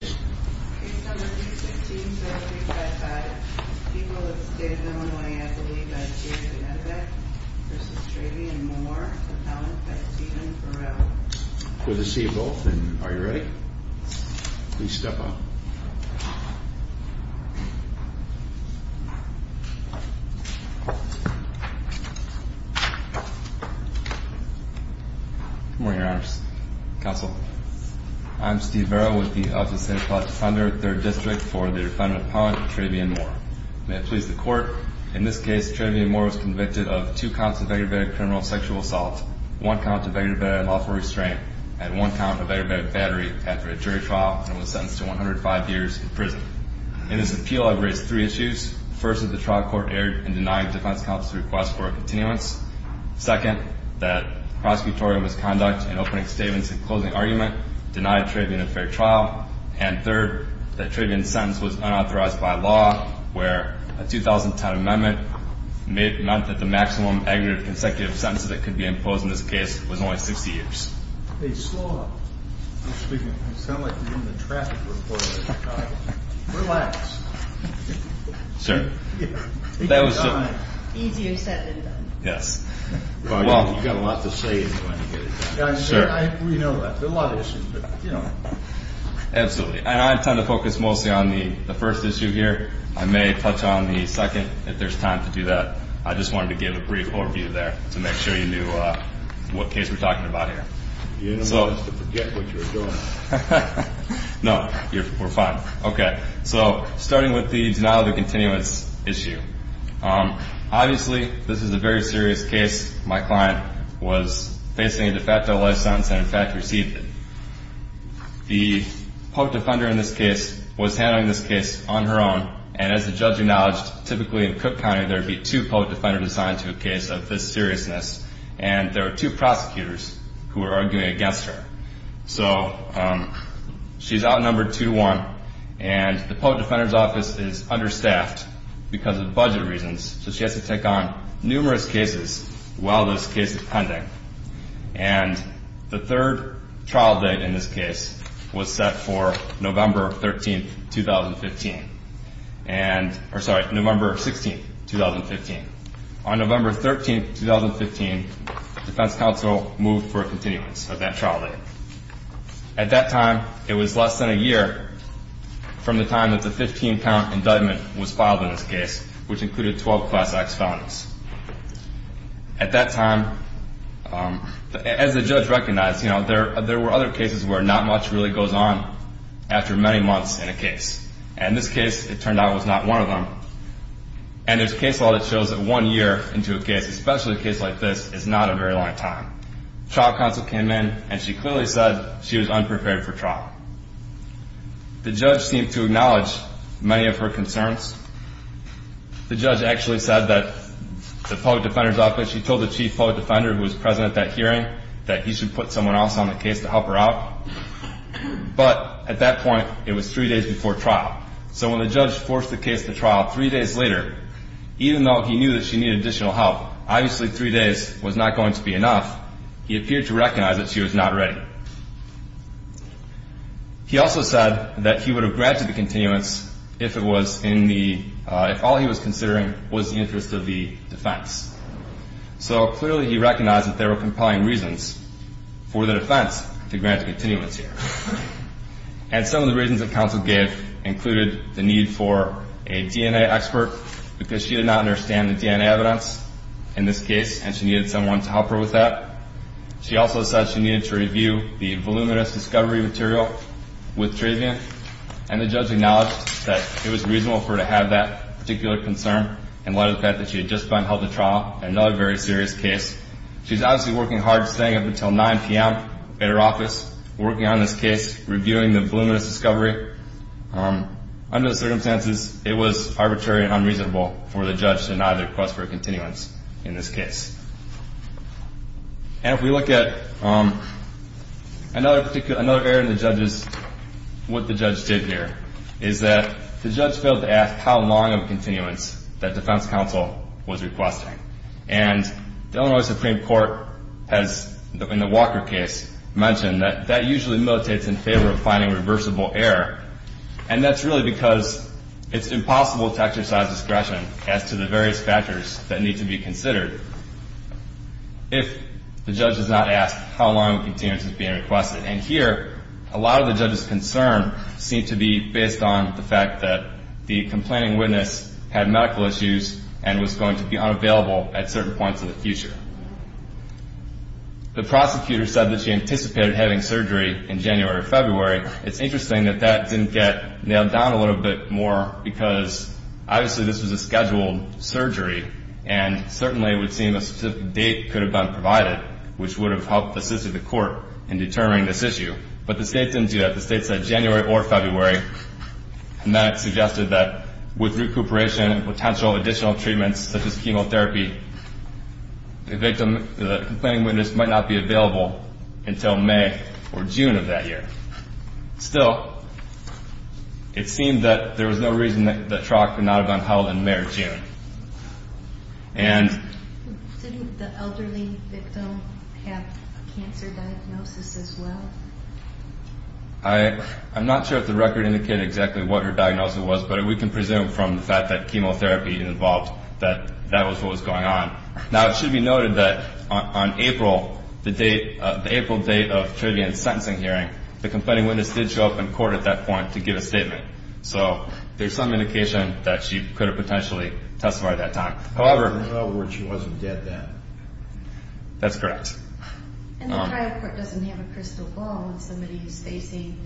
Case number 316-0355. People of the State of Illinois have to leave at 2 to Medivac v. Trayvion Moore, appellant at Stephen Burrell. Good to see you both, and are you ready? Please step up. Good morning, Your Honors. Counsel, I'm Steve Burrell with the Office of State Appellate Defender, 3rd District, for the defendant appellant, Trayvion Moore. May it please the Court, in this case, Trayvion Moore was convicted of two counts of aggravated criminal sexual assault, one count of aggravated lawful restraint, and one count of aggravated battery after a jury trial and was sentenced to 105 years in prison. In this appeal, I've raised three issues. First, that the trial court erred in denying defense counsel's request for a continuance. Second, that prosecutorial misconduct in opening statements and closing argument denied Trayvion a fair trial. And third, that Trayvion's sentence was unauthorized by law, where a 2010 amendment meant that the maximum aggravated consecutive sentences that could be imposed in this case was only 60 years. Hey, slow up. You sound like you're in the traffic report. Relax. Sir? Easier said than done. Yes. Well, you've got a lot to say anyway. We know that. There are a lot of issues, but, you know. Absolutely. And I intend to focus mostly on the first issue here. I may touch on the second if there's time to do that. I just wanted to give a brief overview there to make sure you knew what case we're talking about here. You didn't want us to forget what you were doing. No. We're fine. Okay. So, starting with the denial of the continuance issue. Obviously, this is a very serious case. My client was facing a de facto life sentence and, in fact, received it. The public defender in this case was handling this case on her own. And as the judge acknowledged, typically in Cook County, there would be two public defenders assigned to a case of this seriousness. And there were two prosecutors who were arguing against her. So she's outnumbered two to one, and the public defender's office is understaffed because of budget reasons. So she has to take on numerous cases while this case is pending. And the third trial date in this case was set for November 13, 2015. And, or sorry, November 16, 2015. On November 13, 2015, defense counsel moved for a continuance of that trial date. At that time, it was less than a year from the time that the 15-count indictment was filed in this case, which included 12 Class X felons. At that time, as the judge recognized, you know, there were other cases where not much really goes on after many months in a case. And this case, it turned out, was not one of them. And there's case law that shows that one year into a case, especially a case like this, is not a very long time. Trial counsel came in, and she clearly said she was unprepared for trial. The judge seemed to acknowledge many of her concerns. The judge actually said that the public defender's office, she told the chief public defender who was present at that hearing, that he should put someone else on the case to help her out. But at that point, it was three days before trial. So when the judge forced the case to trial three days later, even though he knew that she needed additional help, obviously three days was not going to be enough. He appeared to recognize that she was not ready. He also said that he would have granted the continuance if all he was considering was the interest of the defense. So clearly he recognized that there were compelling reasons for the defense to grant a continuance here. And some of the reasons that counsel gave included the need for a DNA expert, because she did not understand the DNA evidence in this case, and she needed someone to help her with that. She also said she needed to review the voluminous discovery material with Travian. And the judge acknowledged that it was reasonable for her to have that particular concern, in light of the fact that she had just been held to trial in another very serious case. She was obviously working hard, staying up until 9 p.m. at her office, working on this case, reviewing the voluminous discovery. Under the circumstances, it was arbitrary and unreasonable for the judge to deny the request for a continuance in this case. And if we look at another error in the judge's, what the judge did here, is that the judge failed to ask how long of a continuance that defense counsel was requesting. And the Illinois Supreme Court has, in the Walker case, mentioned that that usually militates in favor of finding reversible error. And that's really because it's impossible to exercise discretion as to the various factors that need to be considered if the judge does not ask how long a continuance is being requested. And here, a lot of the judge's concern seemed to be based on the fact that the complaining witness had medical issues and was going to be unavailable at certain points in the future. The prosecutor said that she anticipated having surgery in January or February. It's interesting that that didn't get nailed down a little bit more because, obviously, this was a scheduled surgery, and certainly it would seem a specific date could have been provided, which would have helped assist the court in determining this issue. But the state didn't do that. The state said January or February, and that suggested that with recuperation and potential additional treatments such as chemotherapy, the complaining witness might not be available until May or June of that year. Still, it seemed that there was no reason that the trial could not have been held in May or June. And... Didn't the elderly victim have a cancer diagnosis as well? I'm not sure if the record indicated exactly what her diagnosis was, but we can presume from the fact that chemotherapy involved that that was what was going on. Now, it should be noted that on April, the April date of Trillian's sentencing hearing, the complaining witness did show up in court at that point to give a statement. So there's some indication that she could have potentially testified at that time. In other words, she wasn't dead then. That's correct. And the trial court doesn't have a crystal ball with somebody who's facing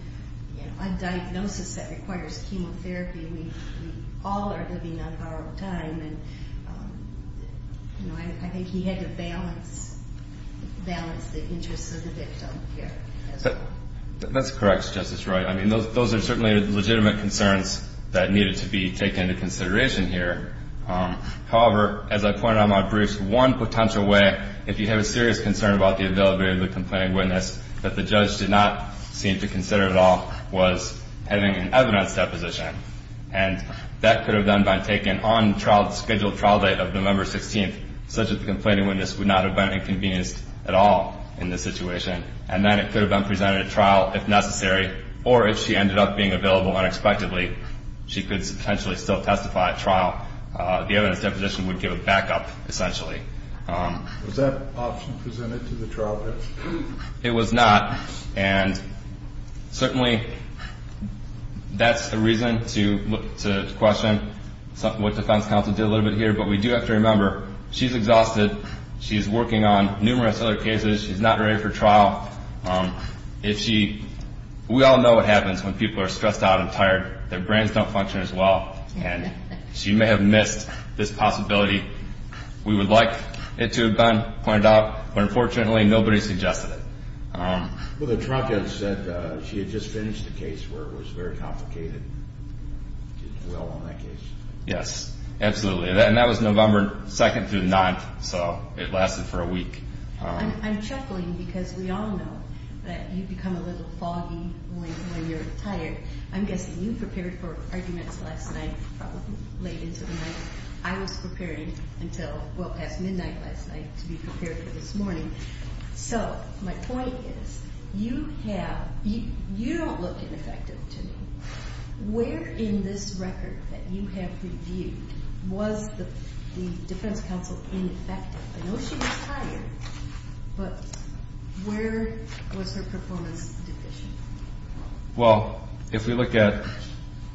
a diagnosis that requires chemotherapy. We all are living on borrowed time, and I think he had to balance the interests of the victim here as well. That's correct, Justice Wright. I mean, those are certainly legitimate concerns that needed to be taken into consideration here. However, as I pointed out in my briefs, one potential way, if you have a serious concern about the availability of the complaining witness that the judge did not seem to consider at all, was having an evidence deposition. And that could have been done by taking an on-scheduled trial date of November 16th, such that the complaining witness would not have been inconvenienced at all in this situation. And then it could have been presented at trial if necessary, or if she ended up being available unexpectedly, she could potentially still testify at trial. The evidence deposition would give a backup, essentially. Was that option presented to the trial court? It was not, and certainly that's a reason to question what defense counsel did a little bit here. But we do have to remember, she's exhausted. She's working on numerous other cases. She's not ready for trial. We all know what happens when people are stressed out and tired. Their brains don't function as well, and she may have missed this possibility. We would like it to have been pointed out, but unfortunately nobody suggested it. Well, the trial judge said she had just finished a case where it was very complicated to dwell on that case. Yes, absolutely. And that was November 2nd through the 9th, so it lasted for a week. I'm chuckling because we all know that you become a little foggy when you're tired. I'm guessing you prepared for arguments last night, probably late into the night. I was preparing until well past midnight last night to be prepared for this morning. So my point is you don't look ineffective to me. Where in this record that you have reviewed was the defense counsel ineffective? I know she was tired, but where was her performance deficient? Well, if we look at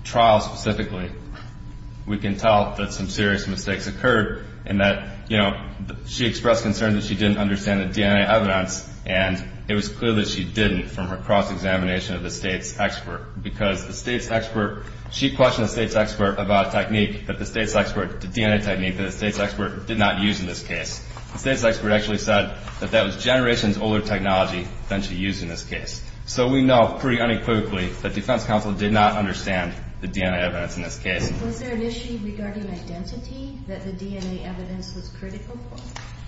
trials specifically, we can tell that some serious mistakes occurred and that she expressed concern that she didn't understand the DNA evidence, and it was clear that she didn't from her cross-examination of the state's expert because the state's expert, she questioned the state's expert about a technique that the state's expert, the DNA technique that the state's expert did not use in this case. The state's expert actually said that that was generations older technology than she used in this case. So we know pretty unequivocally that defense counsel did not understand the DNA evidence in this case. Was there an issue regarding identity that the DNA evidence was critical for?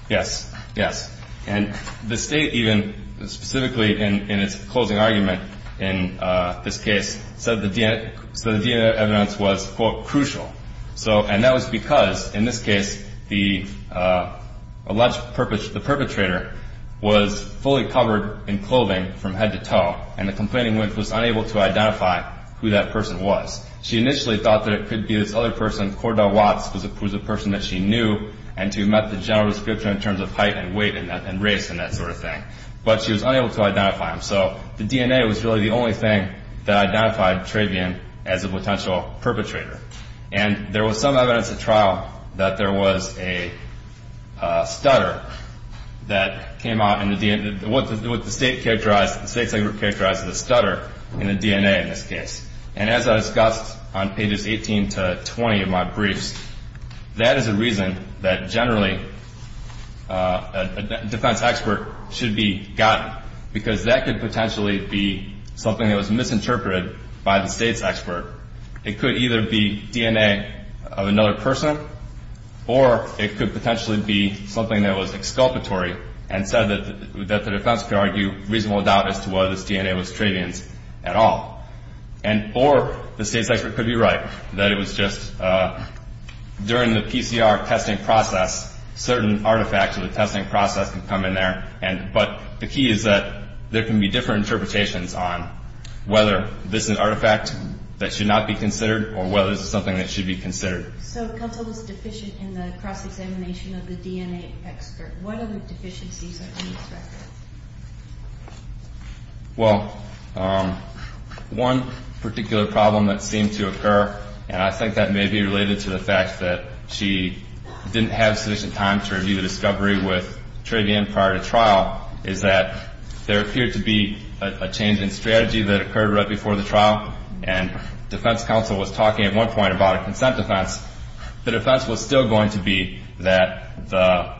Yes, yes. And the state even specifically in its closing argument in this case said the DNA evidence was, quote, crucial. And that was because, in this case, the alleged perpetrator was fully covered in clothing from head to toe, and the complaining woman was unable to identify who that person was. She initially thought that it could be this other person, Cordell Watts, who was a person that she knew and who met the general description in terms of height and weight and race and that sort of thing. But she was unable to identify him, so the DNA was really the only thing that identified Travian as a potential perpetrator. And there was some evidence at trial that there was a stutter that came out in the DNA. What the state characterized, the state's expert characterized as a stutter in the DNA in this case. And as I discussed on pages 18 to 20 of my briefs, that is a reason that generally a defense expert should be gotten, because that could potentially be something that was misinterpreted by the state's expert. It could either be DNA of another person, or it could potentially be something that was exculpatory and said that the defense could argue reasonable doubt as to whether this DNA was Travian's at all. Or the state's expert could be right, that it was just during the PCR testing process, certain artifacts of the testing process can come in there. But the key is that there can be different interpretations on whether this is an artifact that should not be considered or whether this is something that should be considered. So Kelso was deficient in the cross-examination of the DNA expert. What other deficiencies are to be expected? Well, one particular problem that seemed to occur, and I think that may be related to the fact that she didn't have sufficient time to review the discovery with Travian prior to trial, is that there appeared to be a change in strategy that occurred right before the trial, and defense counsel was talking at one point about a consent defense. The defense was still going to be that the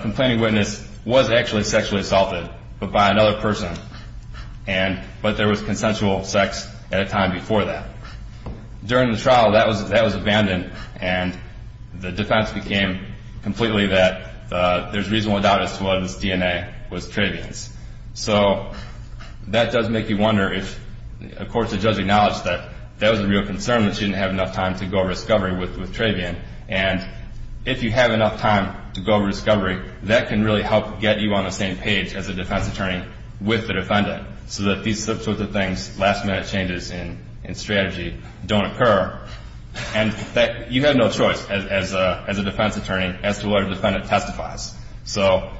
complaining witness was actually sexually assaulted, but by another person, but there was consensual sex at a time before that. During the trial, that was abandoned, and the defense became completely that there's reasonable doubt as to whether this DNA was Travian's. So that does make you wonder if, of course, the judge acknowledged that that was a real concern, that she didn't have enough time to go over discovery with Travian. And if you have enough time to go over discovery, that can really help get you on the same page as a defense attorney with the defendant, so that these sorts of things, last-minute changes in strategy, don't occur, and that you have no choice as a defense attorney as to whether the defendant testifies. So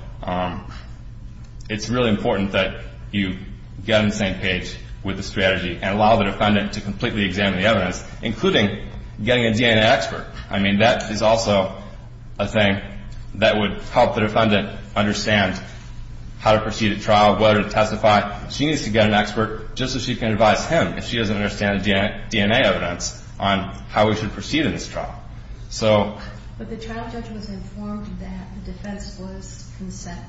it's really important that you get on the same page with the strategy and allow the defendant to completely examine the evidence, including getting a DNA expert. I mean, that is also a thing that would help the defendant understand how to proceed at trial, whether to testify. She needs to get an expert just so she can advise him, if she doesn't understand the DNA evidence, on how we should proceed in this trial. So... But the trial judge was informed that the defense was consent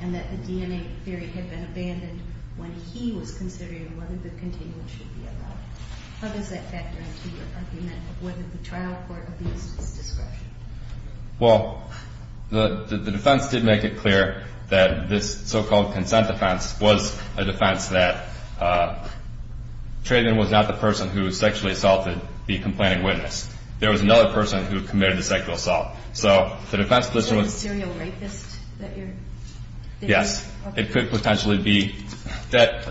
and that the DNA theory had been abandoned when he was considering whether the containment should be allowed. How does that factor into your argument of whether the trial court abused his discretion? Well, the defense did make it clear that this so-called consent defense was a defense that Trayden was not the person who sexually assaulted the complaining witness. There was another person who committed the sexual assault. So the defense position was... So the serial rapist that you're... Yes. Okay. It could potentially be that...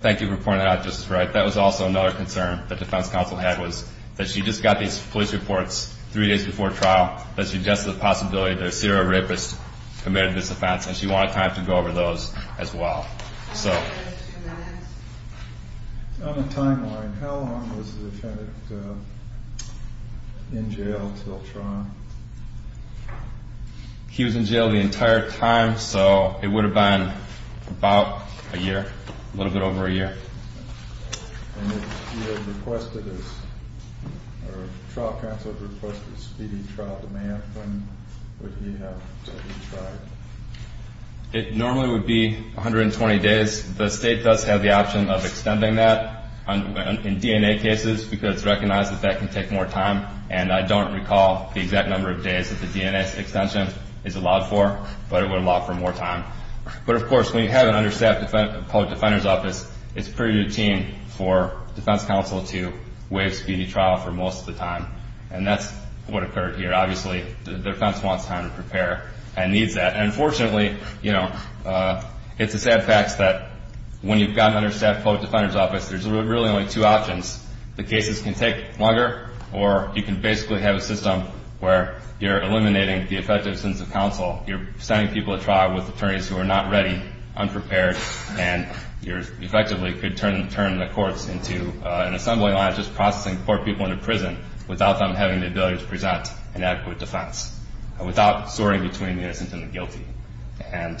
Thank you for pointing that out, Justice Wright. That was also another concern that the defense counsel had, was that she just got these police reports three days before trial, that suggested the possibility that a serial rapist committed this offense, and she wanted time to go over those as well. So... On a timeline, how long was the defendant in jail until trial? He was in jail the entire time, so it would have been about a year, a little bit over a year. And if he had requested his... Or if the trial counsel had requested his speedy trial demand, when would he have to be tried? It normally would be 120 days. The state does have the option of extending that in DNA cases because it's recognized that that can take more time, and I don't recall the exact number of days that the DNA extension is allowed for, but it would allow for more time. It's pretty routine for defense counsel to waive speedy trial for most of the time, and that's what occurred here. Obviously, the defense wants time to prepare and needs that. And fortunately, you know, it's a sad fact that when you've gotten understaffed public defender's office, there's really only two options. The cases can take longer, or you can basically have a system where you're eliminating the effective sense of counsel. You're sending people to trial with attorneys who are not ready, unprepared, and you effectively could turn the courts into an assembly line just processing poor people into prison without them having the ability to present an adequate defense, without soaring between the innocent and the guilty. I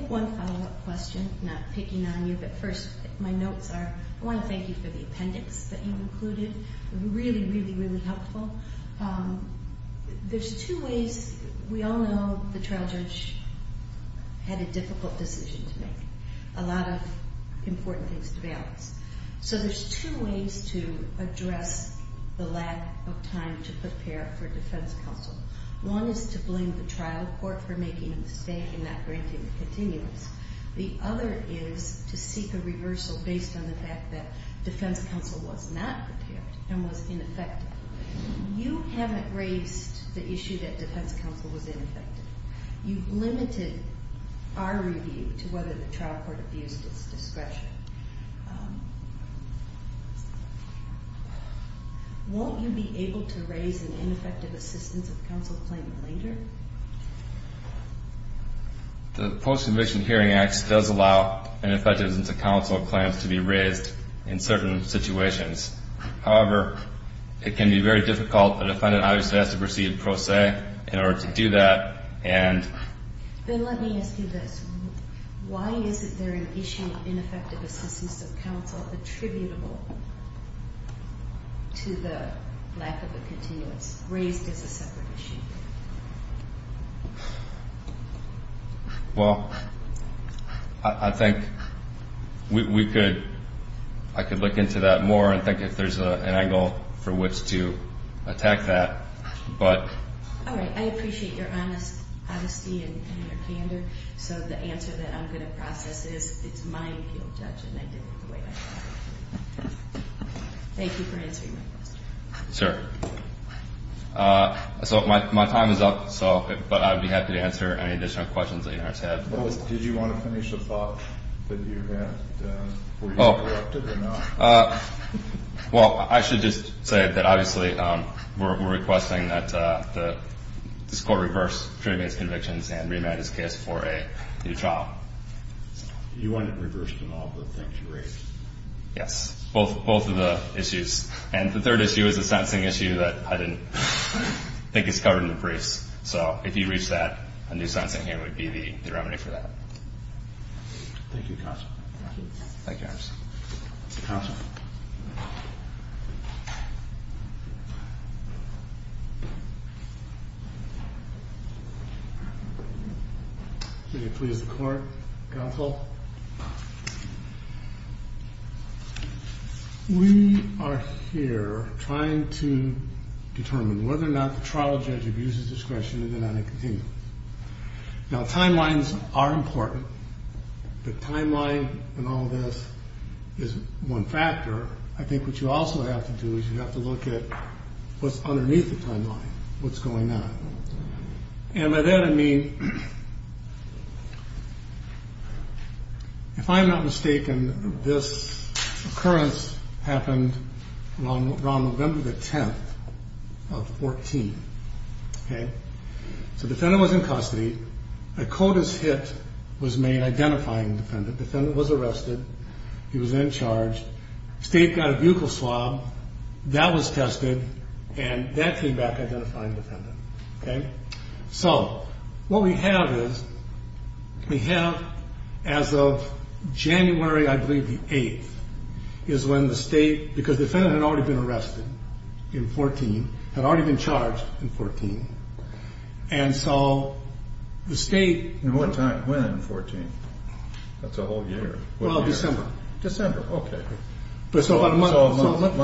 have one follow-up question. I'm not picking on you, but first, my notes are... I want to thank you for the appendix that you included. Really, really, really helpful. There's two ways. We all know the trial judge had a difficult decision to make, a lot of important things to balance. So there's two ways to address the lack of time to prepare for defense counsel. One is to blame the trial court for making a mistake and not granting the continuance. The other is to seek a reversal based on the fact that you haven't raised the issue that defense counsel was ineffective. You've limited our review to whether the trial court abused its discretion. Won't you be able to raise an ineffective assistance of counsel claim later? The Post-Conviction Hearing Act does allow ineffectiveness of counsel claims to be raised in certain situations. However, it can be very difficult for the defendant to have to proceed pro se in order to do that. Then let me ask you this. Why isn't there an issue of ineffective assistance of counsel attributable to the lack of a continuance raised as a separate issue? Well, I think we could... think more and think if there's an angle for which to attack that, but... All right. I appreciate your honesty and your candor. So the answer that I'm going to process is it's my appeal, Judge, and I did it the way I did. Thank you for answering my question. Sir. So my time is up, but I'd be happy to answer any additional questions that you guys have. Did you want to finish a thought that you had? Oh. Well, I should just say that obviously we're requesting that this court reverse Trudy May's convictions and remand his case for a new trial. You want it reversed in all the things you raised? Yes. Both of the issues. And the third issue is a sentencing issue that I didn't think is covered in the briefs. So if you reach that, a new sentencing hearing would be the remedy for that. Thank you, Counsel. Thank you. Thank you, Officer. Counsel. May it please the Court. Counsel. We are here trying to determine whether or not the trial judge abuses discretion in the non-incontinent. Now, timelines are important. The timeline and all of this is one factor. I think what you also have to do is you have to look at what's underneath the timeline, what's going on. And by that, I mean, if I'm not mistaken, this occurrence happened around November the 10th of 14. So the defendant was in custody. A CODIS hit was made identifying the defendant. The defendant was arrested. He was then charged. The state got a vehicle swab. That was tested. And that came back identifying the defendant. So what we have is we have as of January, I believe, the 8th, is when the state, because the defendant had already been arrested in 14, had already been charged in 14, and so the state... And what time? When in 14? That's a whole year. Well, December. December. Okay. So a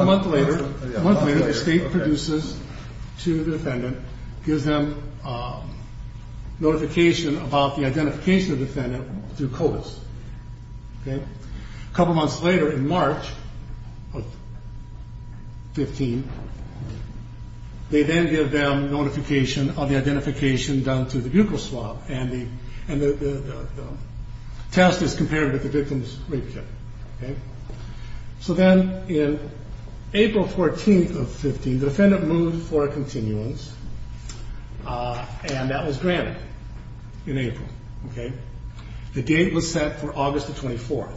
month later, the state produces to the defendant, gives them notification about the identification of the defendant through CODIS. Okay? A couple months later, in March of 15, they then give them notification of the identification done through the vehicle swab. And the test is compared with the victim's rape kit. Okay? So then in April 14th of 15, the defendant moved for a continuance, and that was granted in April. Okay? The date was set for August the 24th.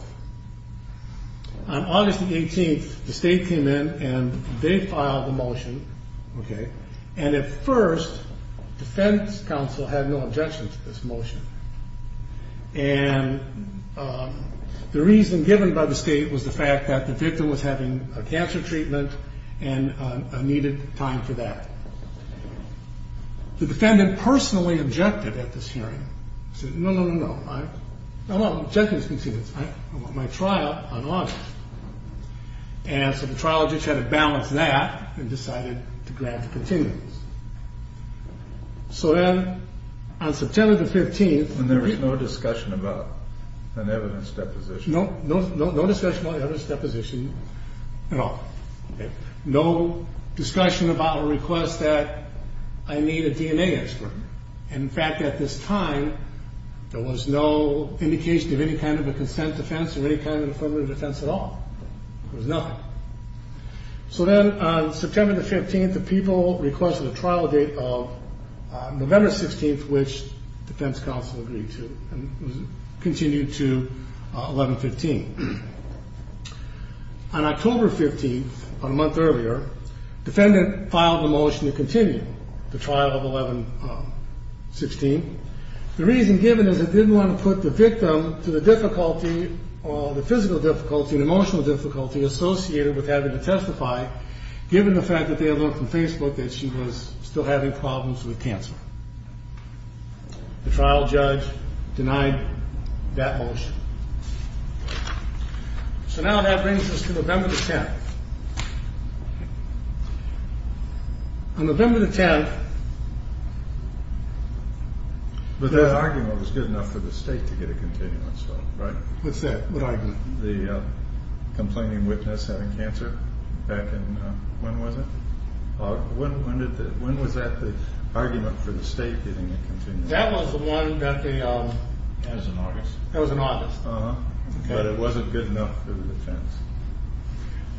On August the 18th, the state came in, and they filed the motion. Okay? And at first, defense counsel had no objection to this motion. And the reason given by the state was the fact that the victim was having a cancer treatment and needed time for that. The defendant personally objected at this hearing. He said, no, no, no, no. I don't object to this continuance. I want my trial on August. And so the trial judge had to balance that and decided to grant the continuance. So then on September the 15th... And there was no discussion about an evidence deposition. No discussion about an evidence deposition at all. No discussion about a request that I need a DNA expert. In fact, at this time, there was no indication of any kind of a consent defense or any kind of affirmative defense at all. There was nothing. So then on September the 15th, the people requested a trial date of November 16th, which defense counsel agreed to. And it continued to 11-15. On October 15th, about a month earlier, defendant filed a motion to continue the trial of 11-16. The reason given is it didn't want to put the victim to the difficulty or the physical difficulty and emotional difficulty associated with having to testify, given the fact that they had learned from Facebook that she was still having problems with cancer. The trial judge denied that motion. So now that brings us to November the 10th. On November the 10th... But that argument was good enough for the state to get a continuance vote, right? What's that? What argument? The complaining witness having cancer back in... when was it? When was that the argument for the state getting a continuance vote? That was the one that the... That was in August. That was in August. But it wasn't good enough for the defense.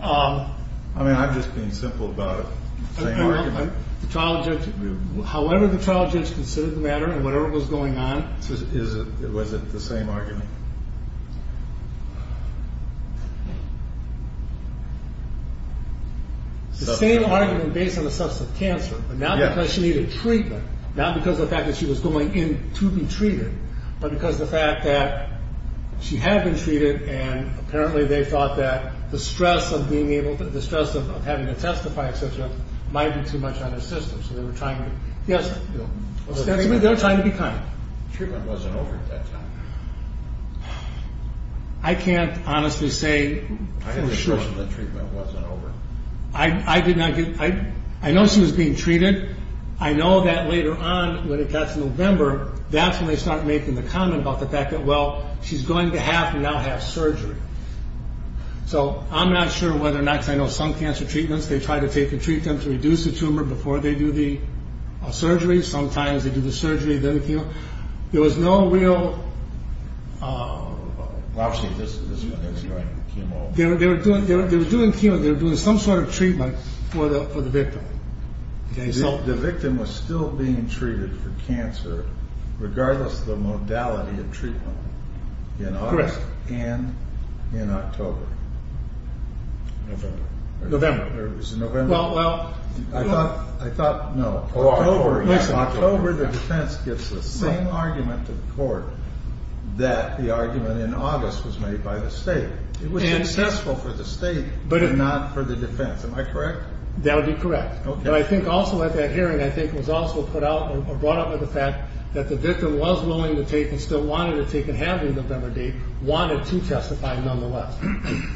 I mean, I'm just being simple about it. The trial judge... however the trial judge considered the matter and whatever was going on... Was it the same argument? The same argument based on the substance of cancer, but not because she needed treatment, not because of the fact that she was going in to be treated, but because of the fact that she had been treated, and apparently they thought that the stress of being able to... the stress of having to testify, etc. might be too much on her system. So they were trying to... Yes? They were trying to be kind. Treatment wasn't over at that time. I can't honestly say for sure. I had the impression that treatment wasn't over. I did not get... I know she was being treated. I know that later on, when it got to November, that's when they started making the comment about the fact that, well, she's going to have to now have surgery. So I'm not sure whether or not... Because I know some cancer treatments, they try to take and treat them to reduce the tumor before they do the surgery. Sometimes they do the surgery, then the chemo. There was no real... They were doing chemo. They were doing some sort of treatment for the victim. The victim was still being treated for cancer, regardless of the modality of treatment, in August and in October. November. It was November. Well... I thought, no. October, the defense gives the same argument to the court that the argument in August was made by the state. It was successful for the state, but not for the defense. Am I correct? That would be correct. But I think also at that hearing, I think it was also brought up with the fact that the victim was willing to take and still wanted to take and have the November date, wanted to testify nonetheless.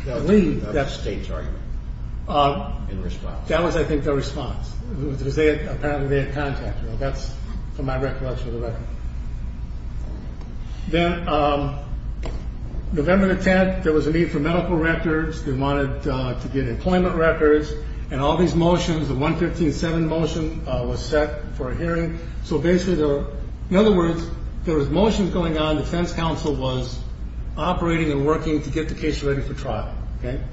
That was the state's argument in response. That was, I think, their response. Because apparently they had contact. That's from my recollection of the record. November the 10th, there was a need for medical records. They wanted to get employment records. And all these motions, the 115-7 motion, was set for a hearing. So basically, in other words, there was motions going on. Defense counsel was operating and working to get the case ready for trial. Then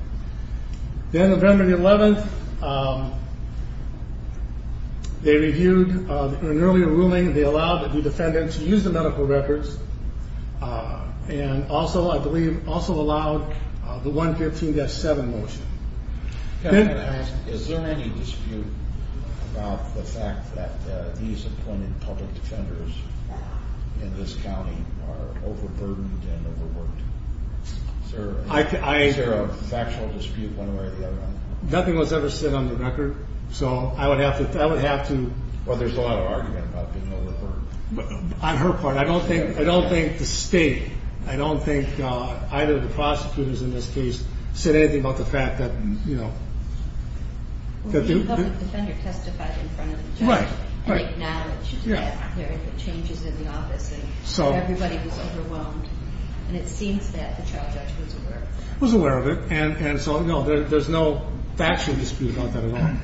November the 11th, they reviewed an earlier ruling. They allowed the defendant to use the medical records. And also, I believe, also allowed the 115-7 motion. Is there any dispute about the fact that these appointed public defenders in this county are overburdened and overworked? Is there a factual dispute one way or the other? Nothing was ever said on the record. So I would have to... Well, there's a lot of argument about being overburdened. On her part, I don't think the state, I don't think either of the prosecutors in this case said anything about the fact that, you know... Well, the public defender testified in front of the judge. Right, right. And acknowledged that there were changes in the office. And everybody was overwhelmed. And it seems that the trial judge was aware. Was aware of it. And so, no, there's no factual dispute about that at all.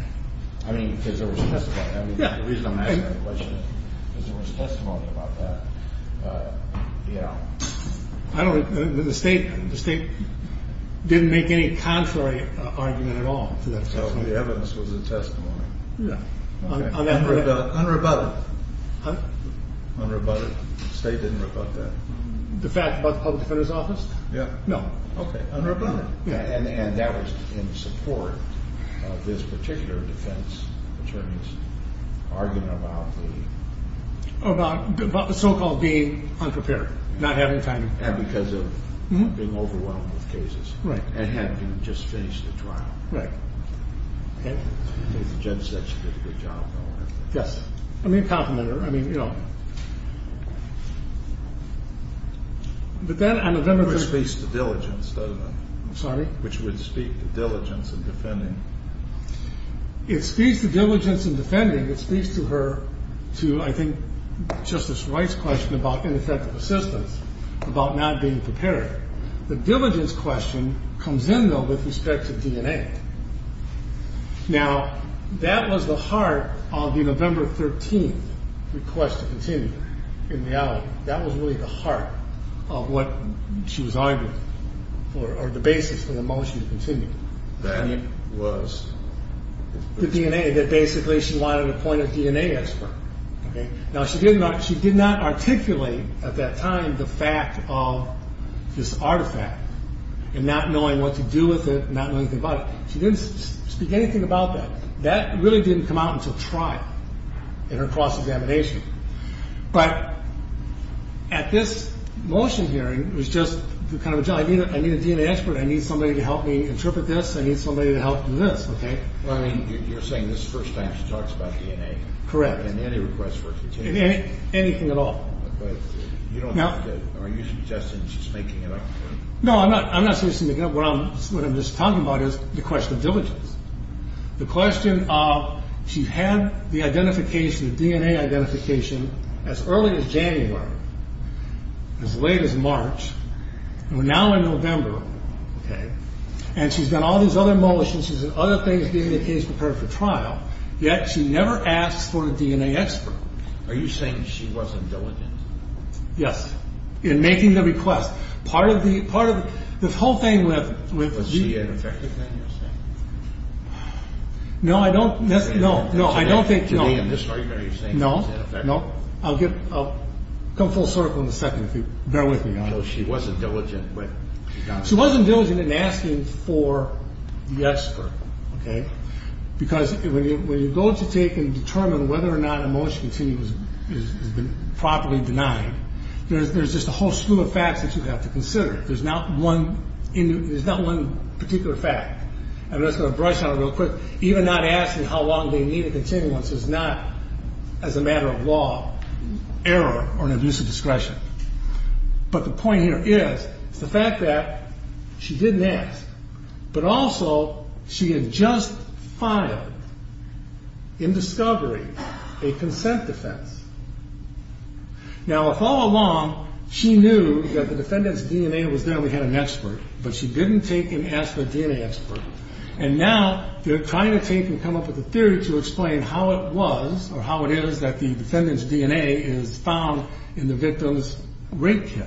I mean, is there... The reason I'm asking that question is is there was testimony about that? Yeah. The state didn't make any contrary argument at all. So the evidence was a testimony. Yeah. Unrebutted. Unrebutted. The state didn't rebut that. The fact about the public defender's office? No. Okay, unrebutted. And that was in support of this particular defense attorney's argument about the... About the so-called being unprepared. Not having time to... And because of being overwhelmed with cases. Right. And having just finished the trial. Right. Okay? I think the judge said she did a good job, though. Yes. I mean, compliment her. I mean, you know... But then... Which speaks to diligence, doesn't it? Sorry? Which would speak to diligence in defending. It speaks to diligence in defending. It speaks to her to, I think, Justice Wright's question about ineffective assistance. About not being prepared. The diligence question comes in, though, with respect to DNA. Now, that was the heart of the November 13th request to continue. In reality, that was really the heart of what she was arguing. Or the basis for the motion to continue. That was... The DNA. That basically she wanted a point of DNA expert. Okay? Now, she did not articulate at that time the fact of this artifact. And not knowing what to do with it. Not knowing anything about it. She didn't speak anything about that. That really didn't come out until trial. In her cross-examination. But at this motion hearing, it was just... I need a DNA expert. I need somebody to help me interpret this. I need somebody to help do this. Well, I mean, you're saying this is the first time she talks about DNA. Correct. In any request for a continuation. In anything at all. But you don't have to... Are you suggesting she's making it up? No, I'm not suggesting she's making it up. What I'm just talking about is the question of diligence. The question of... She had the identification, the DNA identification, as early as January. As late as March. And we're now in November. Okay? And she's done all these other motions. She's done other things getting the case prepared for trial. Yet she never asks for a DNA expert. Are you saying she wasn't diligent? Yes. In making the request. Part of the whole thing with... Was she ineffective then, you're saying? No, I don't... To me, in this argument, are you saying she was ineffective? No, no. I'll come full circle in a second if you bear with me on it. So she wasn't diligent when she got... She wasn't diligent in asking for the expert. Okay? Because when you go to take and determine whether or not a motion to continue has been properly denied, there's just a whole slew of facts that you have to consider. There's not one particular fact. And I'm just going to brush on it real quick. Even not asking how long they need to continue once it's not, as a matter of law, error or an abuse of discretion. But the point here is the fact that she didn't ask. But also, she had just filed, in discovery, a consent defense. Now, a follow-along, she knew that the defendant's DNA was there and we had an expert. But she didn't take and ask for a DNA expert. And now, they're trying to take and come up with a theory to explain how it was, or how it is that the defendant's DNA is found in the victim's rape kit.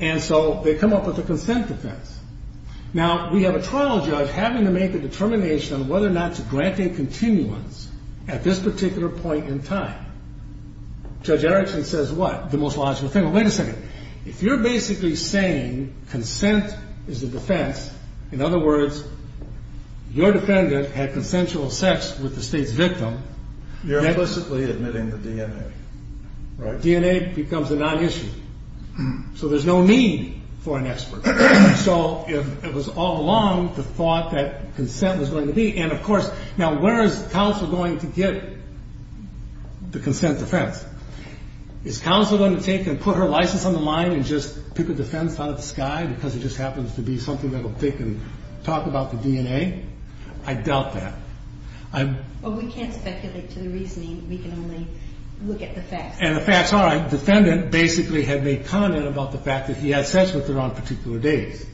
And so, they come up with a consent defense. Now, we have a trial judge having to make a determination on whether or not to grant a continuance at this particular point in time. Judge Erickson says what? The most logical thing. Well, wait a second. If you're basically saying consent is a defense, in other words, your defendant had consensual sex with the state's victim. You're implicitly admitting the DNA, right? DNA becomes a non-issue. So, there's no need for an expert. So, it was all along the thought that consent was going to be. And, of course, now, where is counsel going to get the consent defense? Is counsel going to take and put her license on the line and just pick a defense out of the sky because it just happens to be something that will pick and talk about the DNA? I doubt that. Well, we can't speculate to the reasoning. We can only look at the facts. And the facts are the defendant basically had made comment about the fact that he had sex with her on particular days.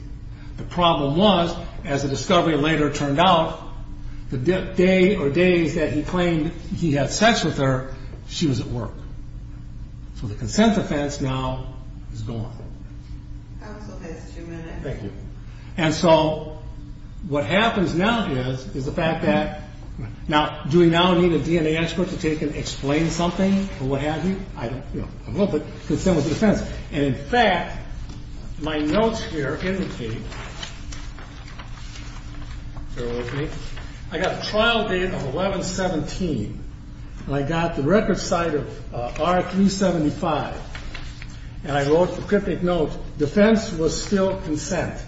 The problem was, as the discovery later turned out, the day or days that he claimed he had sex with her, she was at work. So, the consent defense now is gone. Counsel has two minutes. Thank you. And so, what happens now is, is the fact that, now, do we now need a DNA expert to take and explain something or what have you? I'm a little bit concerned with the defense. And, in fact, my notes here indicate I got a trial date of 11-17. And I got the record site of R-375. And I wrote the cryptic note, defense was still consent.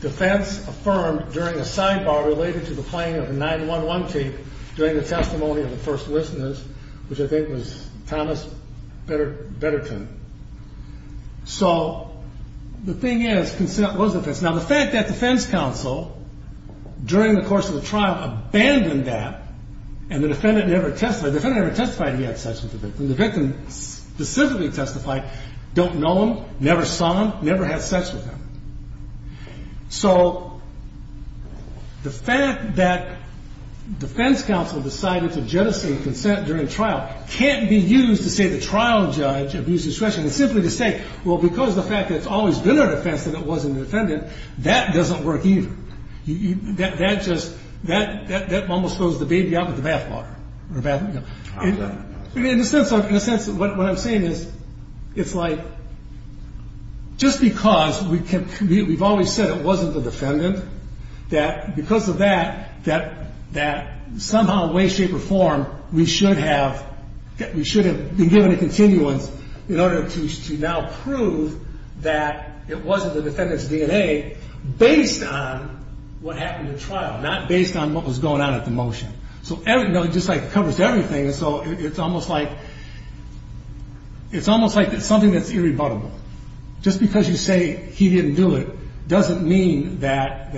Defense affirmed during a sidebar related to the playing of a 9-1-1 tape during the testimony of the first listeners, which I think was Thomas Betterton. So, the thing is, consent was defense. Now, the fact that defense counsel, during the course of the trial, abandoned that, and the defendant never testified. The defendant never testified he had sex with the victim. The victim specifically testified, don't know him, never saw him, never had sex with him. So, the fact that defense counsel decided to jettison consent during trial can't be used to say the trial judge abused discretion. It's simply to say, well, because the fact that it's always been a defense and it wasn't a defendant, that doesn't work either. That just, that almost throws the baby out with the bathwater. In a sense, what I'm saying is, it's like, just because we've always said it wasn't the defendant, that because of that, that somehow, way, shape, or form, we should have been given a continuance in order to now prove that it wasn't the defendant's DNA based on what happened in trial, not based on what was going on at the motion. So, just like it covers everything, so it's almost like, it's almost like it's something that's irrebuttable. Just because you say he didn't do it, doesn't mean that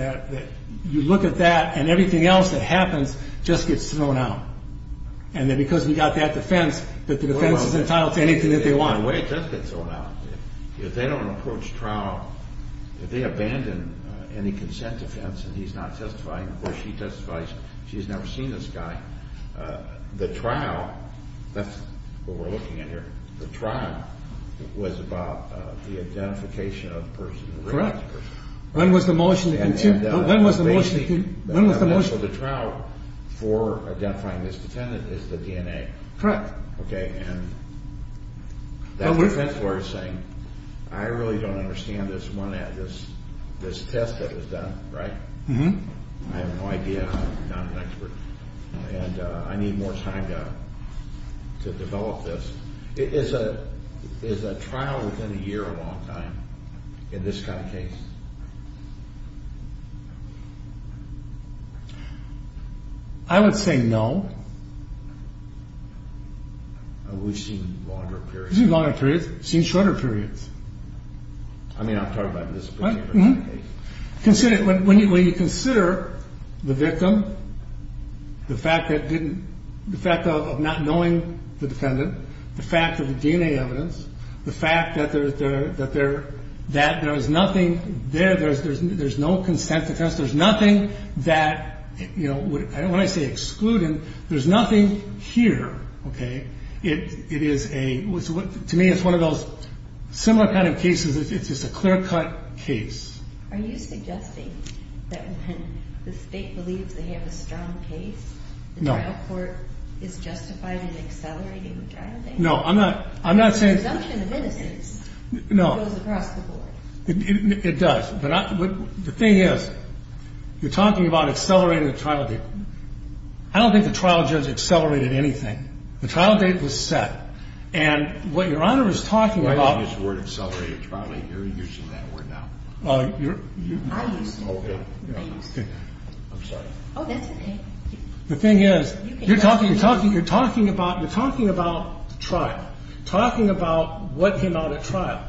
you look at that and everything else that happens just gets thrown out. And then because we got that defense, that the defense is entitled to anything that they want. The way it does get thrown out, if they don't approach trial, if they abandon any consent defense and he's not testifying, or she testifies she's never seen this guy, the trial, that's what we're looking at here, the trial was about the identification of the person. Correct. When was the motion, when was the motion? The trial for identifying this defendant is the DNA. Correct. Okay, and that defense lawyer is saying, I really don't understand this one, this test that was done, right? I have no idea, I'm not an expert, and I need more time to develop this. Is a trial within a year a long time in this kind of case? I would say no. We've seen longer periods. We've seen longer periods, we've seen shorter periods. I mean I'm talking about this particular case. When you consider the victim, the fact of not knowing the defendant, the fact of the DNA evidence, the fact that there's nothing there, there's no consent defense, there's nothing that, when I say excluded, there's nothing here, okay, it is a, to me it's one of those similar kind of cases, it's just a clear cut case. Are you suggesting that when the state believes they have a strong case, the trial court is justified in accelerating the trial date? No, I'm not, I'm not saying. The presumption of innocence goes across the board. No, it does, but the thing is, you're talking about accelerating the trial date. I don't think the trial judge accelerated anything. The trial date was set, and what Your Honor is talking about. You're using that word now. I'm sorry. The thing is, you're talking about the trial, talking about what came out at trial.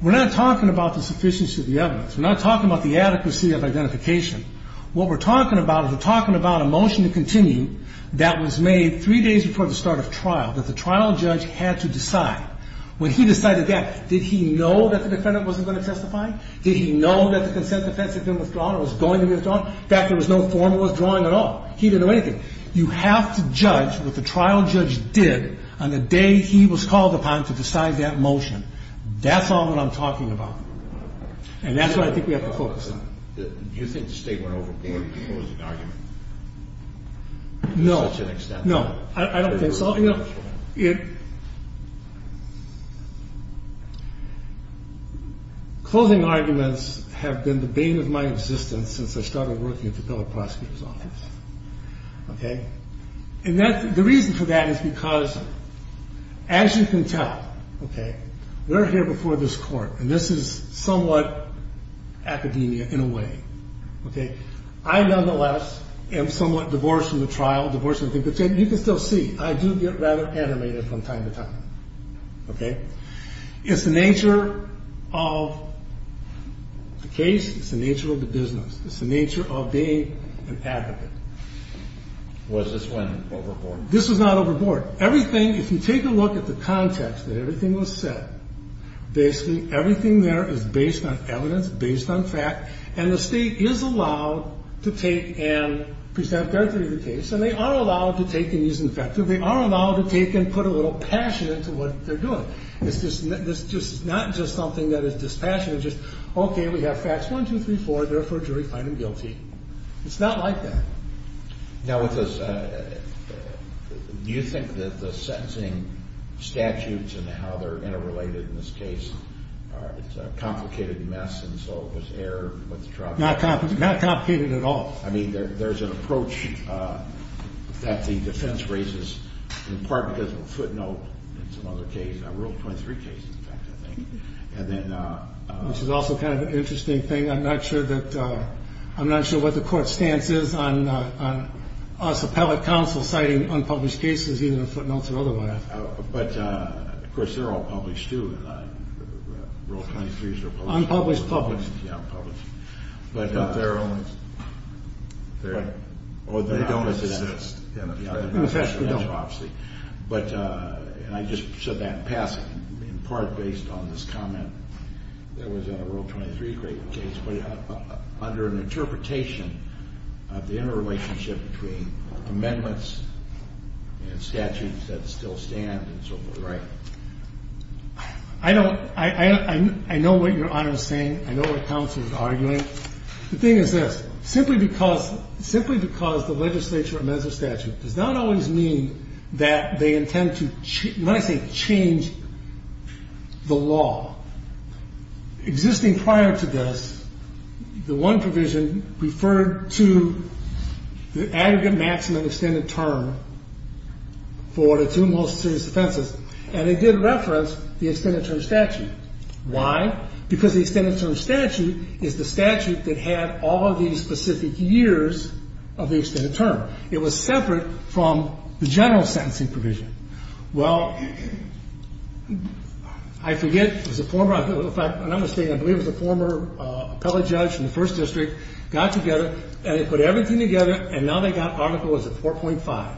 We're not talking about the sufficiency of the evidence. We're not talking about the adequacy of identification. What we're talking about is we're talking about a motion to continue that was made three days before the start of trial, that the trial judge had to decide. When he decided that, did he know that the defendant wasn't going to testify? Did he know that the consent defense had been withdrawn or was going to be withdrawn? In fact, there was no formal withdrawing at all. He didn't know anything. You have to judge what the trial judge did on the day he was called upon to decide that motion. That's all that I'm talking about, and that's what I think we have to focus on. Do you think the state went overboard? It was an argument to such an extent. No, I don't think so. Closing arguments have been the bane of my existence since I started working at the federal prosecutor's office. The reason for that is because, as you can tell, we're here before this court, and this is somewhat academia in a way. I, nonetheless, am somewhat divorced from the trial, divorced from the case. You can still see, I do get rather animated from time to time. It's the nature of the case. It's the nature of the business. It's the nature of being an advocate. Was this went overboard? This was not overboard. If you take a look at the context that everything was set, basically everything there is based on evidence, based on fact, and the state is allowed to take and present their theory of the case, and they are allowed to take and use the facts. They are allowed to take and put a little passion into what they're doing. It's not just something that is dispassionate. It's just, okay, we have facts one, two, three, four. Therefore, a jury find them guilty. It's not like that. Now, do you think that the sentencing statutes and how they're interrelated in this case, it's a complicated mess, and so it was errored with the trial? Not complicated at all. I mean, there's an approach that the defense raises, in part because of a footnote in some other case, a Rule 23 case, in fact, I think. Which is also kind of an interesting thing. I'm not sure what the court's stance is on us appellate counsel citing unpublished cases, either in footnotes or otherwise. But, of course, they're all published, too. Rule 23s are published. Unpublished, published. Yeah, unpublished. But they're only, they're, or they don't exist. In effect, they don't. But, and I just said that in passing, in part based on this comment that was in a Rule 23 case, but under an interpretation of the interrelationship between amendments and statutes that still stand and so forth. Right. I don't, I know what Your Honor is saying. I know what counsel is arguing. The thing is this. Simply because, simply because the legislature amends a statute does not always mean that they intend to, when I say change the law. Existing prior to this, the one provision referred to the aggregate maximum extended term for the two most serious offenses. And it did reference the extended term statute. Why? Because the extended term statute is the statute that had all of these specific years of the extended term. It was separate from the general sentencing provision. Well, I forget, it was a former, if I'm not mistaken, I believe it was a former appellate judge from the First District got together and they put everything together and now they got Article 4.5.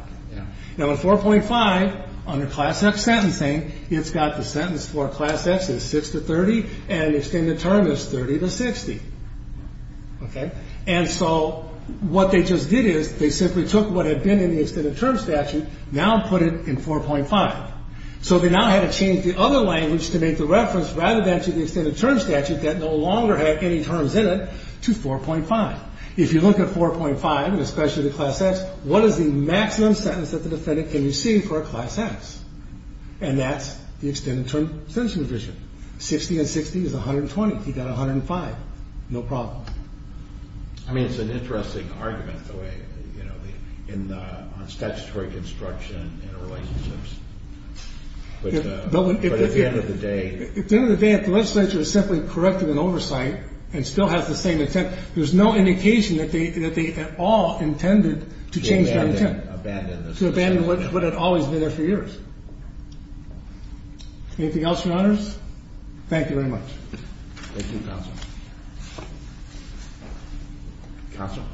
Now in 4.5, under Class X sentencing, it's got the sentence for Class X is 6 to 30 and extended term is 30 to 60. Okay. And so what they just did is they simply took what had been in the extended term statute, now put it in 4.5. So they now had to change the other language to make the reference rather than to the extended term statute that no longer had any terms in it to 4.5. If you look at 4.5, and especially the Class X, what is the maximum sentence that the defendant can receive for a Class X? And that's the extended term sentencing provision. 60 and 60 is 120. He got 105. No problem. I mean, it's an interesting argument, the way, you know, on statutory construction and relationships. But at the end of the day... At the end of the day, if the legislature is simply correct in an oversight and still has the same intent, there's no indication that they at all intended to change that intent. To abandon what had always been there for years. Anything else, Your Honors? Thank you very much. Thank you, Counsel. Counsel?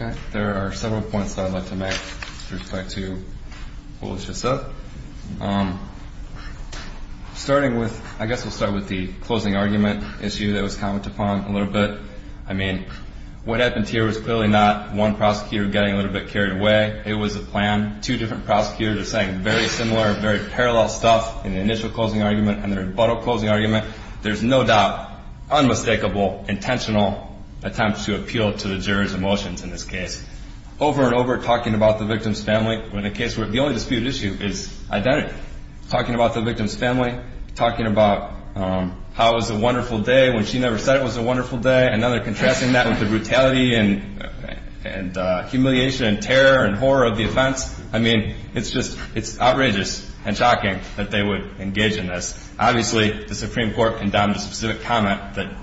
Okay. There are several points that I'd like to make with respect to what was just said. Starting with, I guess we'll start with the closing argument issue that was commented upon a little bit. I mean, what happened here was clearly not one prosecutor getting a little bit carried away. It was a plan. Two different prosecutors are saying very similar, very parallel stuff in the initial closing argument and the rebuttal closing argument. There's no doubt, unmistakable, intentional attempts to appeal to the jury's emotions in this case. Over and over, talking about the victim's family. In a case where the only disputed issue is identity. Talking about the victim's family. Talking about how it was a wonderful day when she never said it was a wonderful day. And now they're contrasting that with the brutality and humiliation and terror and horror of the offense. I mean, it's just, it's outrageous and shocking that they would engage in this. Obviously, the Supreme Court condemned a specific comment that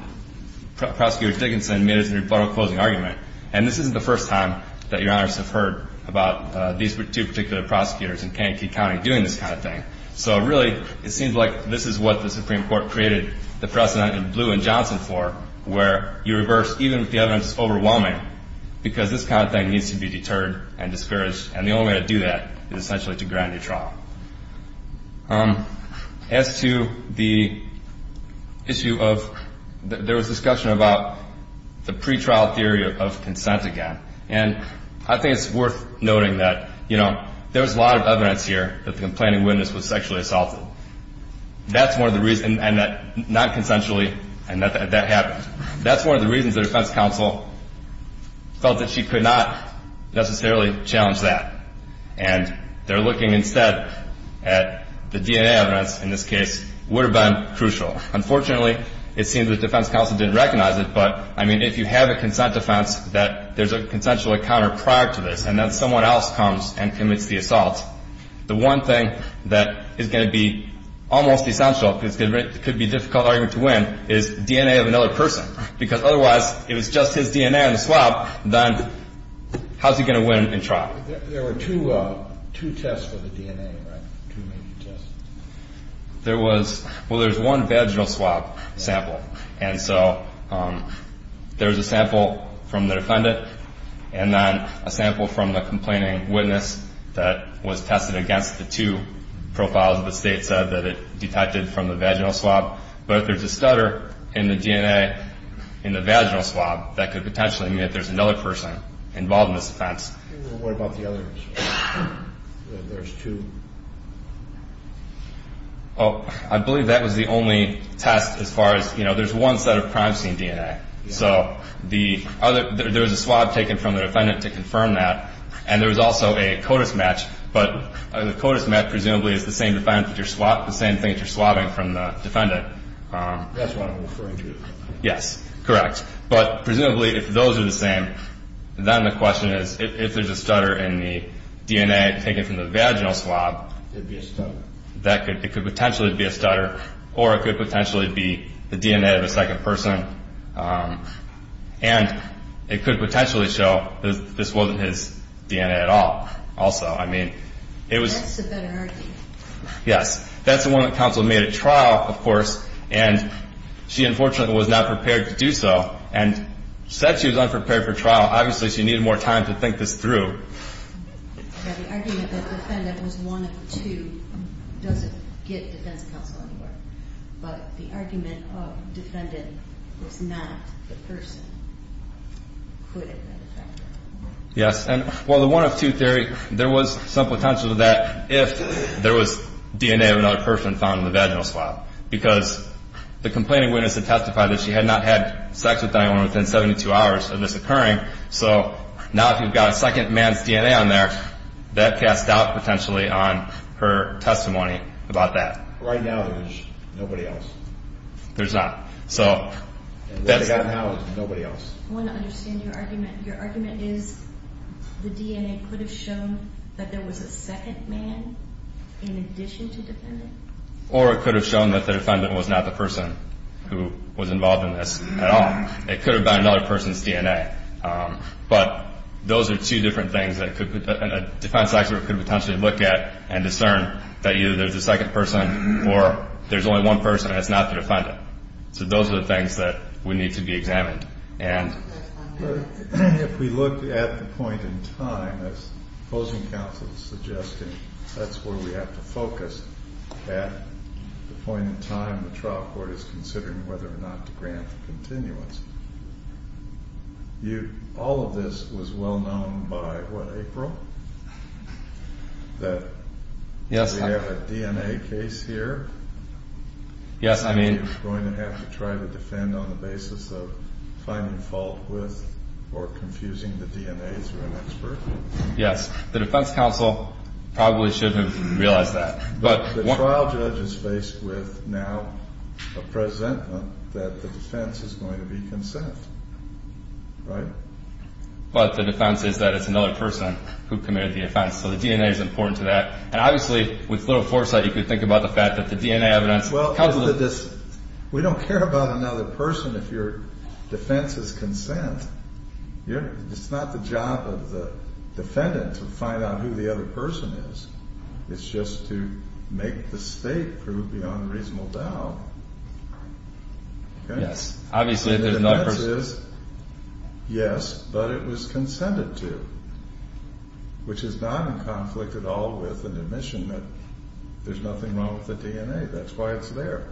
Prosecutor Dickinson made as the rebuttal closing argument. And this isn't the first time that Your Honors have heard about these two particular prosecutors in Kankakee County doing this kind of thing. So really, it seems like this is what the Supreme Court created the precedent in Blue and Johnson for. Where you reverse, even if the evidence is overwhelming, because this kind of thing needs to be deterred and discouraged. And the only way to do that is essentially to grant a new trial. As to the issue of, there was discussion about the pretrial theory of consent again. And I think it's worth noting that, you know, there was a lot of evidence here that the complaining witness was sexually assaulted. That's one of the reasons, and not consensually, and that happened. That's one of the reasons the defense counsel felt that she could not necessarily challenge that. And they're looking instead at the DNA evidence in this case would have been crucial. Unfortunately, it seems the defense counsel didn't recognize it. But, I mean, if you have a consent defense that there's a consensual encounter prior to this, and then someone else comes and commits the assault, the one thing that is going to be almost essential, because it could be a difficult argument to win, is DNA of another person. Because otherwise, if it's just his DNA in the swab, then how's he going to win in trial? There were two tests for the DNA, right? Two major tests. There was, well, there's one vaginal swab sample. And so there's a sample from the defendant, and then a sample from the complaining witness that was tested against the two profiles. The State said that it detected from the vaginal swab. But if there's a stutter in the DNA in the vaginal swab, that could potentially mean that there's another person involved in this offense. What about the others? There's two. Oh, I believe that was the only test as far as, you know, there's one set of crime scene DNA. So there was a swab taken from the defendant to confirm that. And there was also a CODIS match. But the CODIS match presumably is the same thing that you're swabbing from the defendant. That's what I'm referring to. Yes, correct. But presumably, if those are the same, then the question is, if there's a stutter in the DNA taken from the vaginal swab, it could potentially be a stutter. Or it could potentially be the DNA of a second person. And it could potentially show that this wasn't his DNA at all. Also, I mean, it was- That's the better argument. Yes, that's the one that counsel made at trial, of course. And she, unfortunately, was not prepared to do so and said she was unprepared for trial. Obviously, she needed more time to think this through. The argument that the defendant was one of two doesn't get defense counsel anymore. But the argument of defendant was not the person. Yes. And while the one-of-two theory, there was some potential to that if there was DNA of another person found in the vaginal swab. Because the complaining witness had testified that she had not had sex with anyone within 72 hours of this occurring. So now if you've got a second man's DNA on there, that cast doubt potentially on her testimony about that. Right now, there's nobody else. There's not. So that's- And what we've got now is nobody else. I want to understand your argument. Your argument is the DNA could have shown that there was a second man in addition to defendant? Or it could have shown that the defendant was not the person who was involved in this at all. It could have been another person's DNA. But those are two different things that a defense attorney could potentially look at and discern that either there's a second person or there's only one person and it's not the defendant. If we look at the point in time, as opposing counsel is suggesting, that's where we have to focus. At the point in time the trial court is considering whether or not to grant the continuance. All of this was well known by, what, April? Yes. That we have a DNA case here. Yes, I mean- Somebody is going to have to try to defend on the basis of finding fault with or confusing the DNA through an expert? Yes. The defense counsel probably should have realized that. But- The trial judge is faced with now a presentment that the defense is going to be consent. Right? But the defense is that it's another person who committed the offense. So the DNA is important to that. And obviously, with little foresight, you could think about the fact that the DNA evidence- We don't care about another person if your defense is consent. It's not the job of the defendant to find out who the other person is. It's just to make the state prove beyond reasonable doubt. Yes. Obviously, if there's another person- Yes, but it was consented to, which is not in conflict at all with an admission that there's nothing wrong with the DNA. That's why it's there.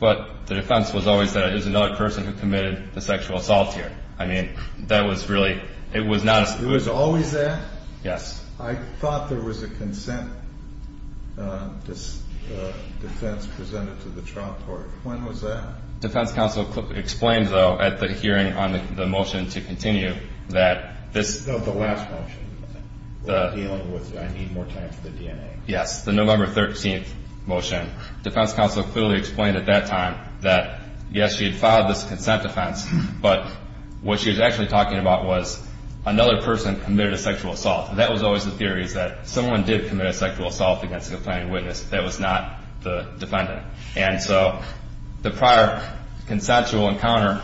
But the defense was always that it was another person who committed the sexual assault here. I mean, that was really- It was always that? Yes. I thought there was a consent defense presented to the trial court. When was that? Defense counsel explained, though, at the hearing on the motion to continue, that this- No, the last motion, dealing with I need more time for the DNA. Yes, the November 13th motion. Defense counsel clearly explained at that time that, yes, she had filed this consent defense, but what she was actually talking about was another person committed a sexual assault. And that was always the theory, is that someone did commit a sexual assault against the plaintiff's witness. That was not the defendant. And so the prior consensual encounter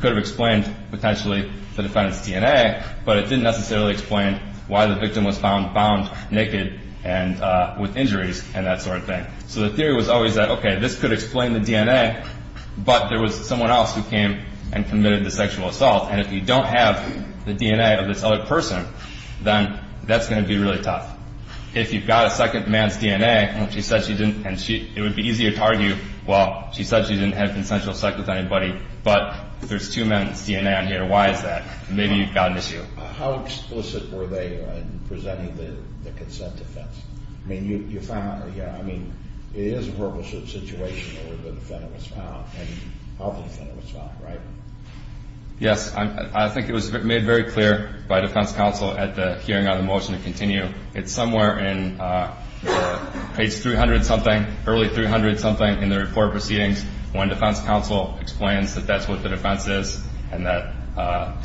could have explained, potentially, the defendant's DNA, but it didn't necessarily explain why the victim was found bound, naked, and with injuries and that sort of thing. So the theory was always that, okay, this could explain the DNA, but there was someone else who came and committed the sexual assault. And if you don't have the DNA of this other person, then that's going to be really tough. If you've got a second man's DNA, and it would be easier to argue, well, she said she didn't have consensual sex with anybody, but there's two men's DNA on here. Why is that? Maybe you've got an issue. How explicit were they in presenting the consent defense? I mean, it is a verbal situation where the defendant was found, and how the defendant was found, right? Yes. I think it was made very clear by defense counsel at the hearing on the motion to continue. It's somewhere in page 300-something, early 300-something in the report of proceedings, when defense counsel explains that that's what the defense is and that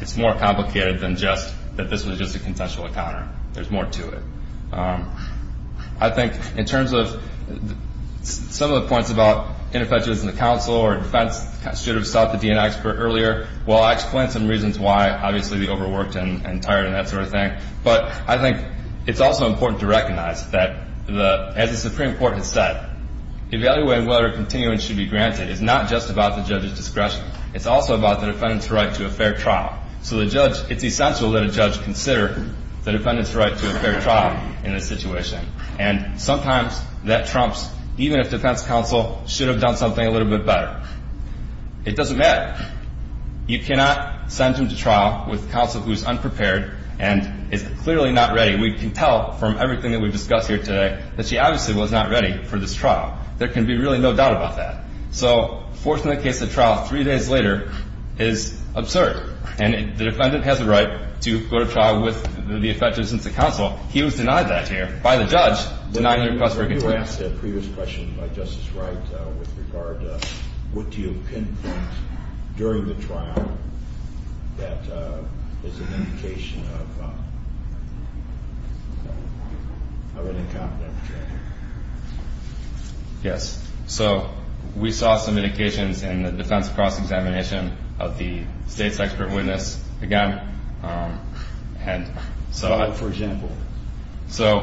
it's more complicated than just that this was just a consensual encounter. There's more to it. I think in terms of some of the points about ineffectiveness in the counsel or defense should have sought the DNA expert earlier, well, I explained some reasons why, obviously, the overworked and tired and that sort of thing. But I think it's also important to recognize that, as the Supreme Court has said, evaluating whether a continuance should be granted is not just about the judge's discretion. It's also about the defendant's right to a fair trial. So it's essential that a judge consider the defendant's right to a fair trial in this situation. And sometimes that trumps even if defense counsel should have done something a little bit better. It doesn't matter. You cannot send him to trial with counsel who is unprepared and is clearly not ready. We can tell from everything that we've discussed here today that she obviously was not ready for this trial. There can be really no doubt about that. So forcing the case to trial three days later is absurd. And the defendant has the right to go to trial with the effectiveness of the counsel. He was denied that here by the judge denying the request for a continuance. You asked a previous question by Justice Wright with regard to what do you pinpoint during the trial that is an indication of an incompetent attorney. Yes. So we saw some indications in the defense cross-examination of the state's expert witness again. For example? So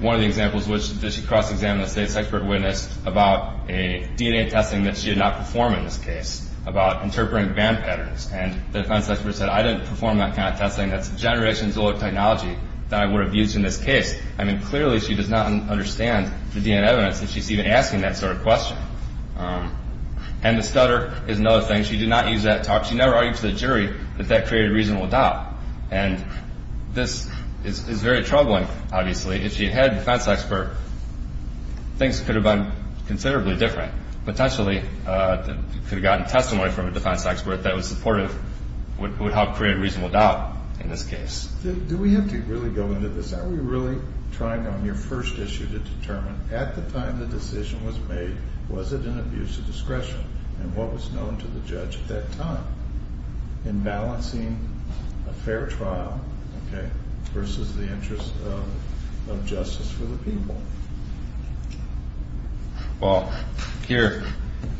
one of the examples was that she cross-examined the state's expert witness about a DNA testing that she did not perform in this case, about interpreting band patterns. And the defense expert said, I didn't perform that kind of testing. That's a generation's old technology that I would have used in this case. I mean, clearly she does not understand the DNA evidence that she's even asking that sort of question. And the stutter is another thing. She did not use that talk. She never argued to the jury that that created a reasonable doubt. And this is very troubling, obviously. If she had had a defense expert, things could have been considerably different, potentially could have gotten testimony from a defense expert that was supportive, would help create a reasonable doubt in this case. Do we have to really go into this? Are we really trying on your first issue to determine at the time the decision was made, was it an abuse of discretion? And what was known to the judge at that time in balancing a fair trial versus the interest of justice for the people? Well, here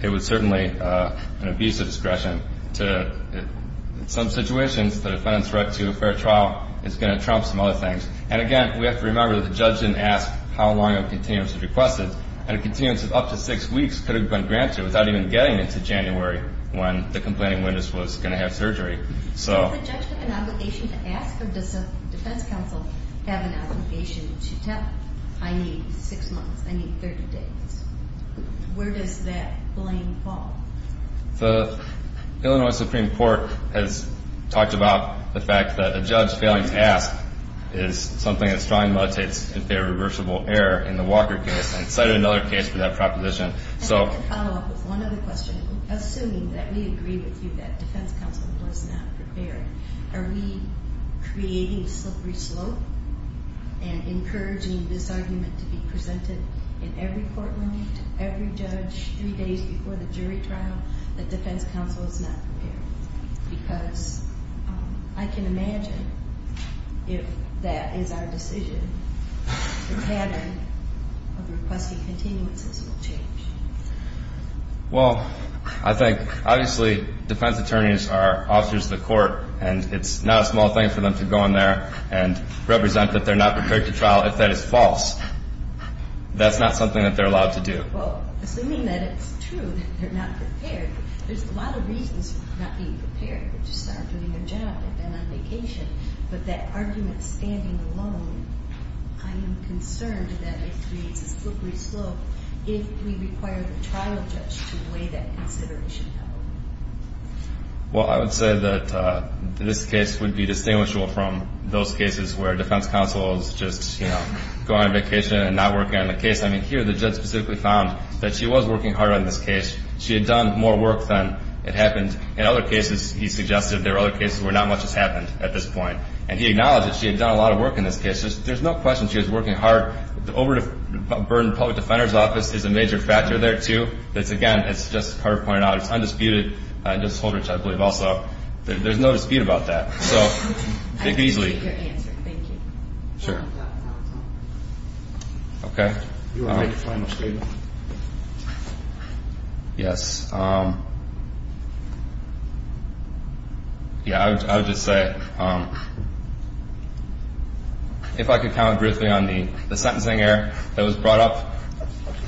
it was certainly an abuse of discretion. In some situations, the defendant's right to a fair trial is going to trump some other things. And, again, we have to remember that the judge didn't ask how long a continuance was requested. And a continuance of up to six weeks could have been granted without even getting into January when the complaining witness was going to have surgery. Does the judge have an obligation to ask, or does the defense counsel have an obligation to tell, I need six months, I need 30 days? Where does that blame fall? The Illinois Supreme Court has talked about the fact that a judge failing to ask is something that strongly mutates into a reversible error in the Walker case, and cited another case for that proposition. And I can follow up with one other question. Assuming that we agree with you that defense counsel was not prepared, are we creating a slippery slope and encouraging this argument to be presented in every court room, to every judge, three days before the jury trial, that defense counsel is not prepared? Because I can imagine if that is our decision, the pattern of requesting continuances will change. Well, I think, obviously, defense attorneys are officers of the court, and it's not a small thing for them to go in there and represent that they're not prepared to trial if that is false. That's not something that they're allowed to do. Well, assuming that it's true that they're not prepared, there's a lot of reasons for not being prepared. They just aren't doing their job. They've been on vacation. But that argument standing alone, I am concerned that it creates a slippery slope if we require the trial judge to weigh that consideration. Well, I would say that this case would be distinguishable from those cases where defense counsel is just, you know, going on vacation and not working on the case. I mean, here the judge specifically found that she was working hard on this case. She had done more work than it happened. In other cases, he suggested there were other cases where not much has happened at this point. And he acknowledged that she had done a lot of work in this case. There's no question she was working hard. The overburdened public defender's office is a major factor there, too. Again, as Justice Carter pointed out, it's undisputed, and Justice Holdrich, I believe, also. There's no dispute about that. I appreciate your answer. Thank you. Sure. Okay. Yes. Yeah, I would just say, if I could comment briefly on the sentencing error that was brought up.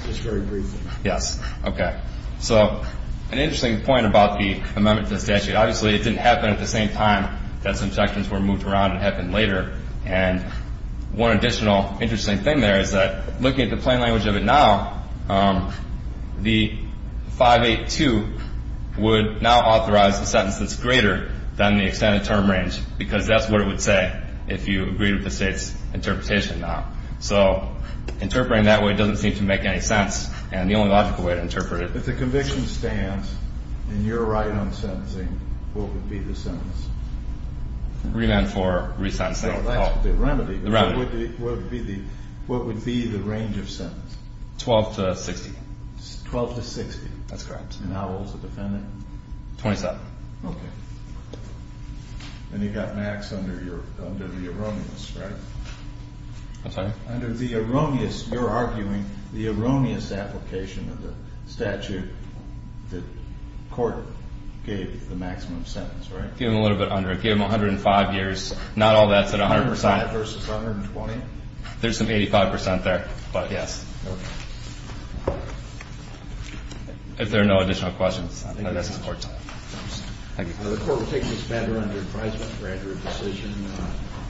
Just very briefly. Yes. Okay. So, an interesting point about the amendment to the statute. Obviously, it didn't happen at the same time that some sections were moved around. It happened later. And one additional interesting thing there is that, looking at the plain language of it now, the 582 would now authorize a sentence that's greater than the extended term range, because that's what it would say if you agreed with the State's interpretation now. So, interpreting that way doesn't seem to make any sense, and the only logical way to interpret it. If the conviction stands and you're right on sentencing, what would be the sentence? Remand for re-sentencing. The remedy. The remedy. What would be the range of sentence? 12 to 60. 12 to 60. That's correct. And how old is the defendant? 27. Okay. And you've got Max under the erroneous, right? I'm sorry? Under the erroneous. You're arguing the erroneous application of the statute that court gave the maximum sentence, right? Give him a little bit under. Give him 105 years. Not all that's at 100%. 100% versus 120? There's some 85% there, but yes. Okay. If there are no additional questions, I think this is court time. Thank you. The court will take this matter under advisement to grant your decision.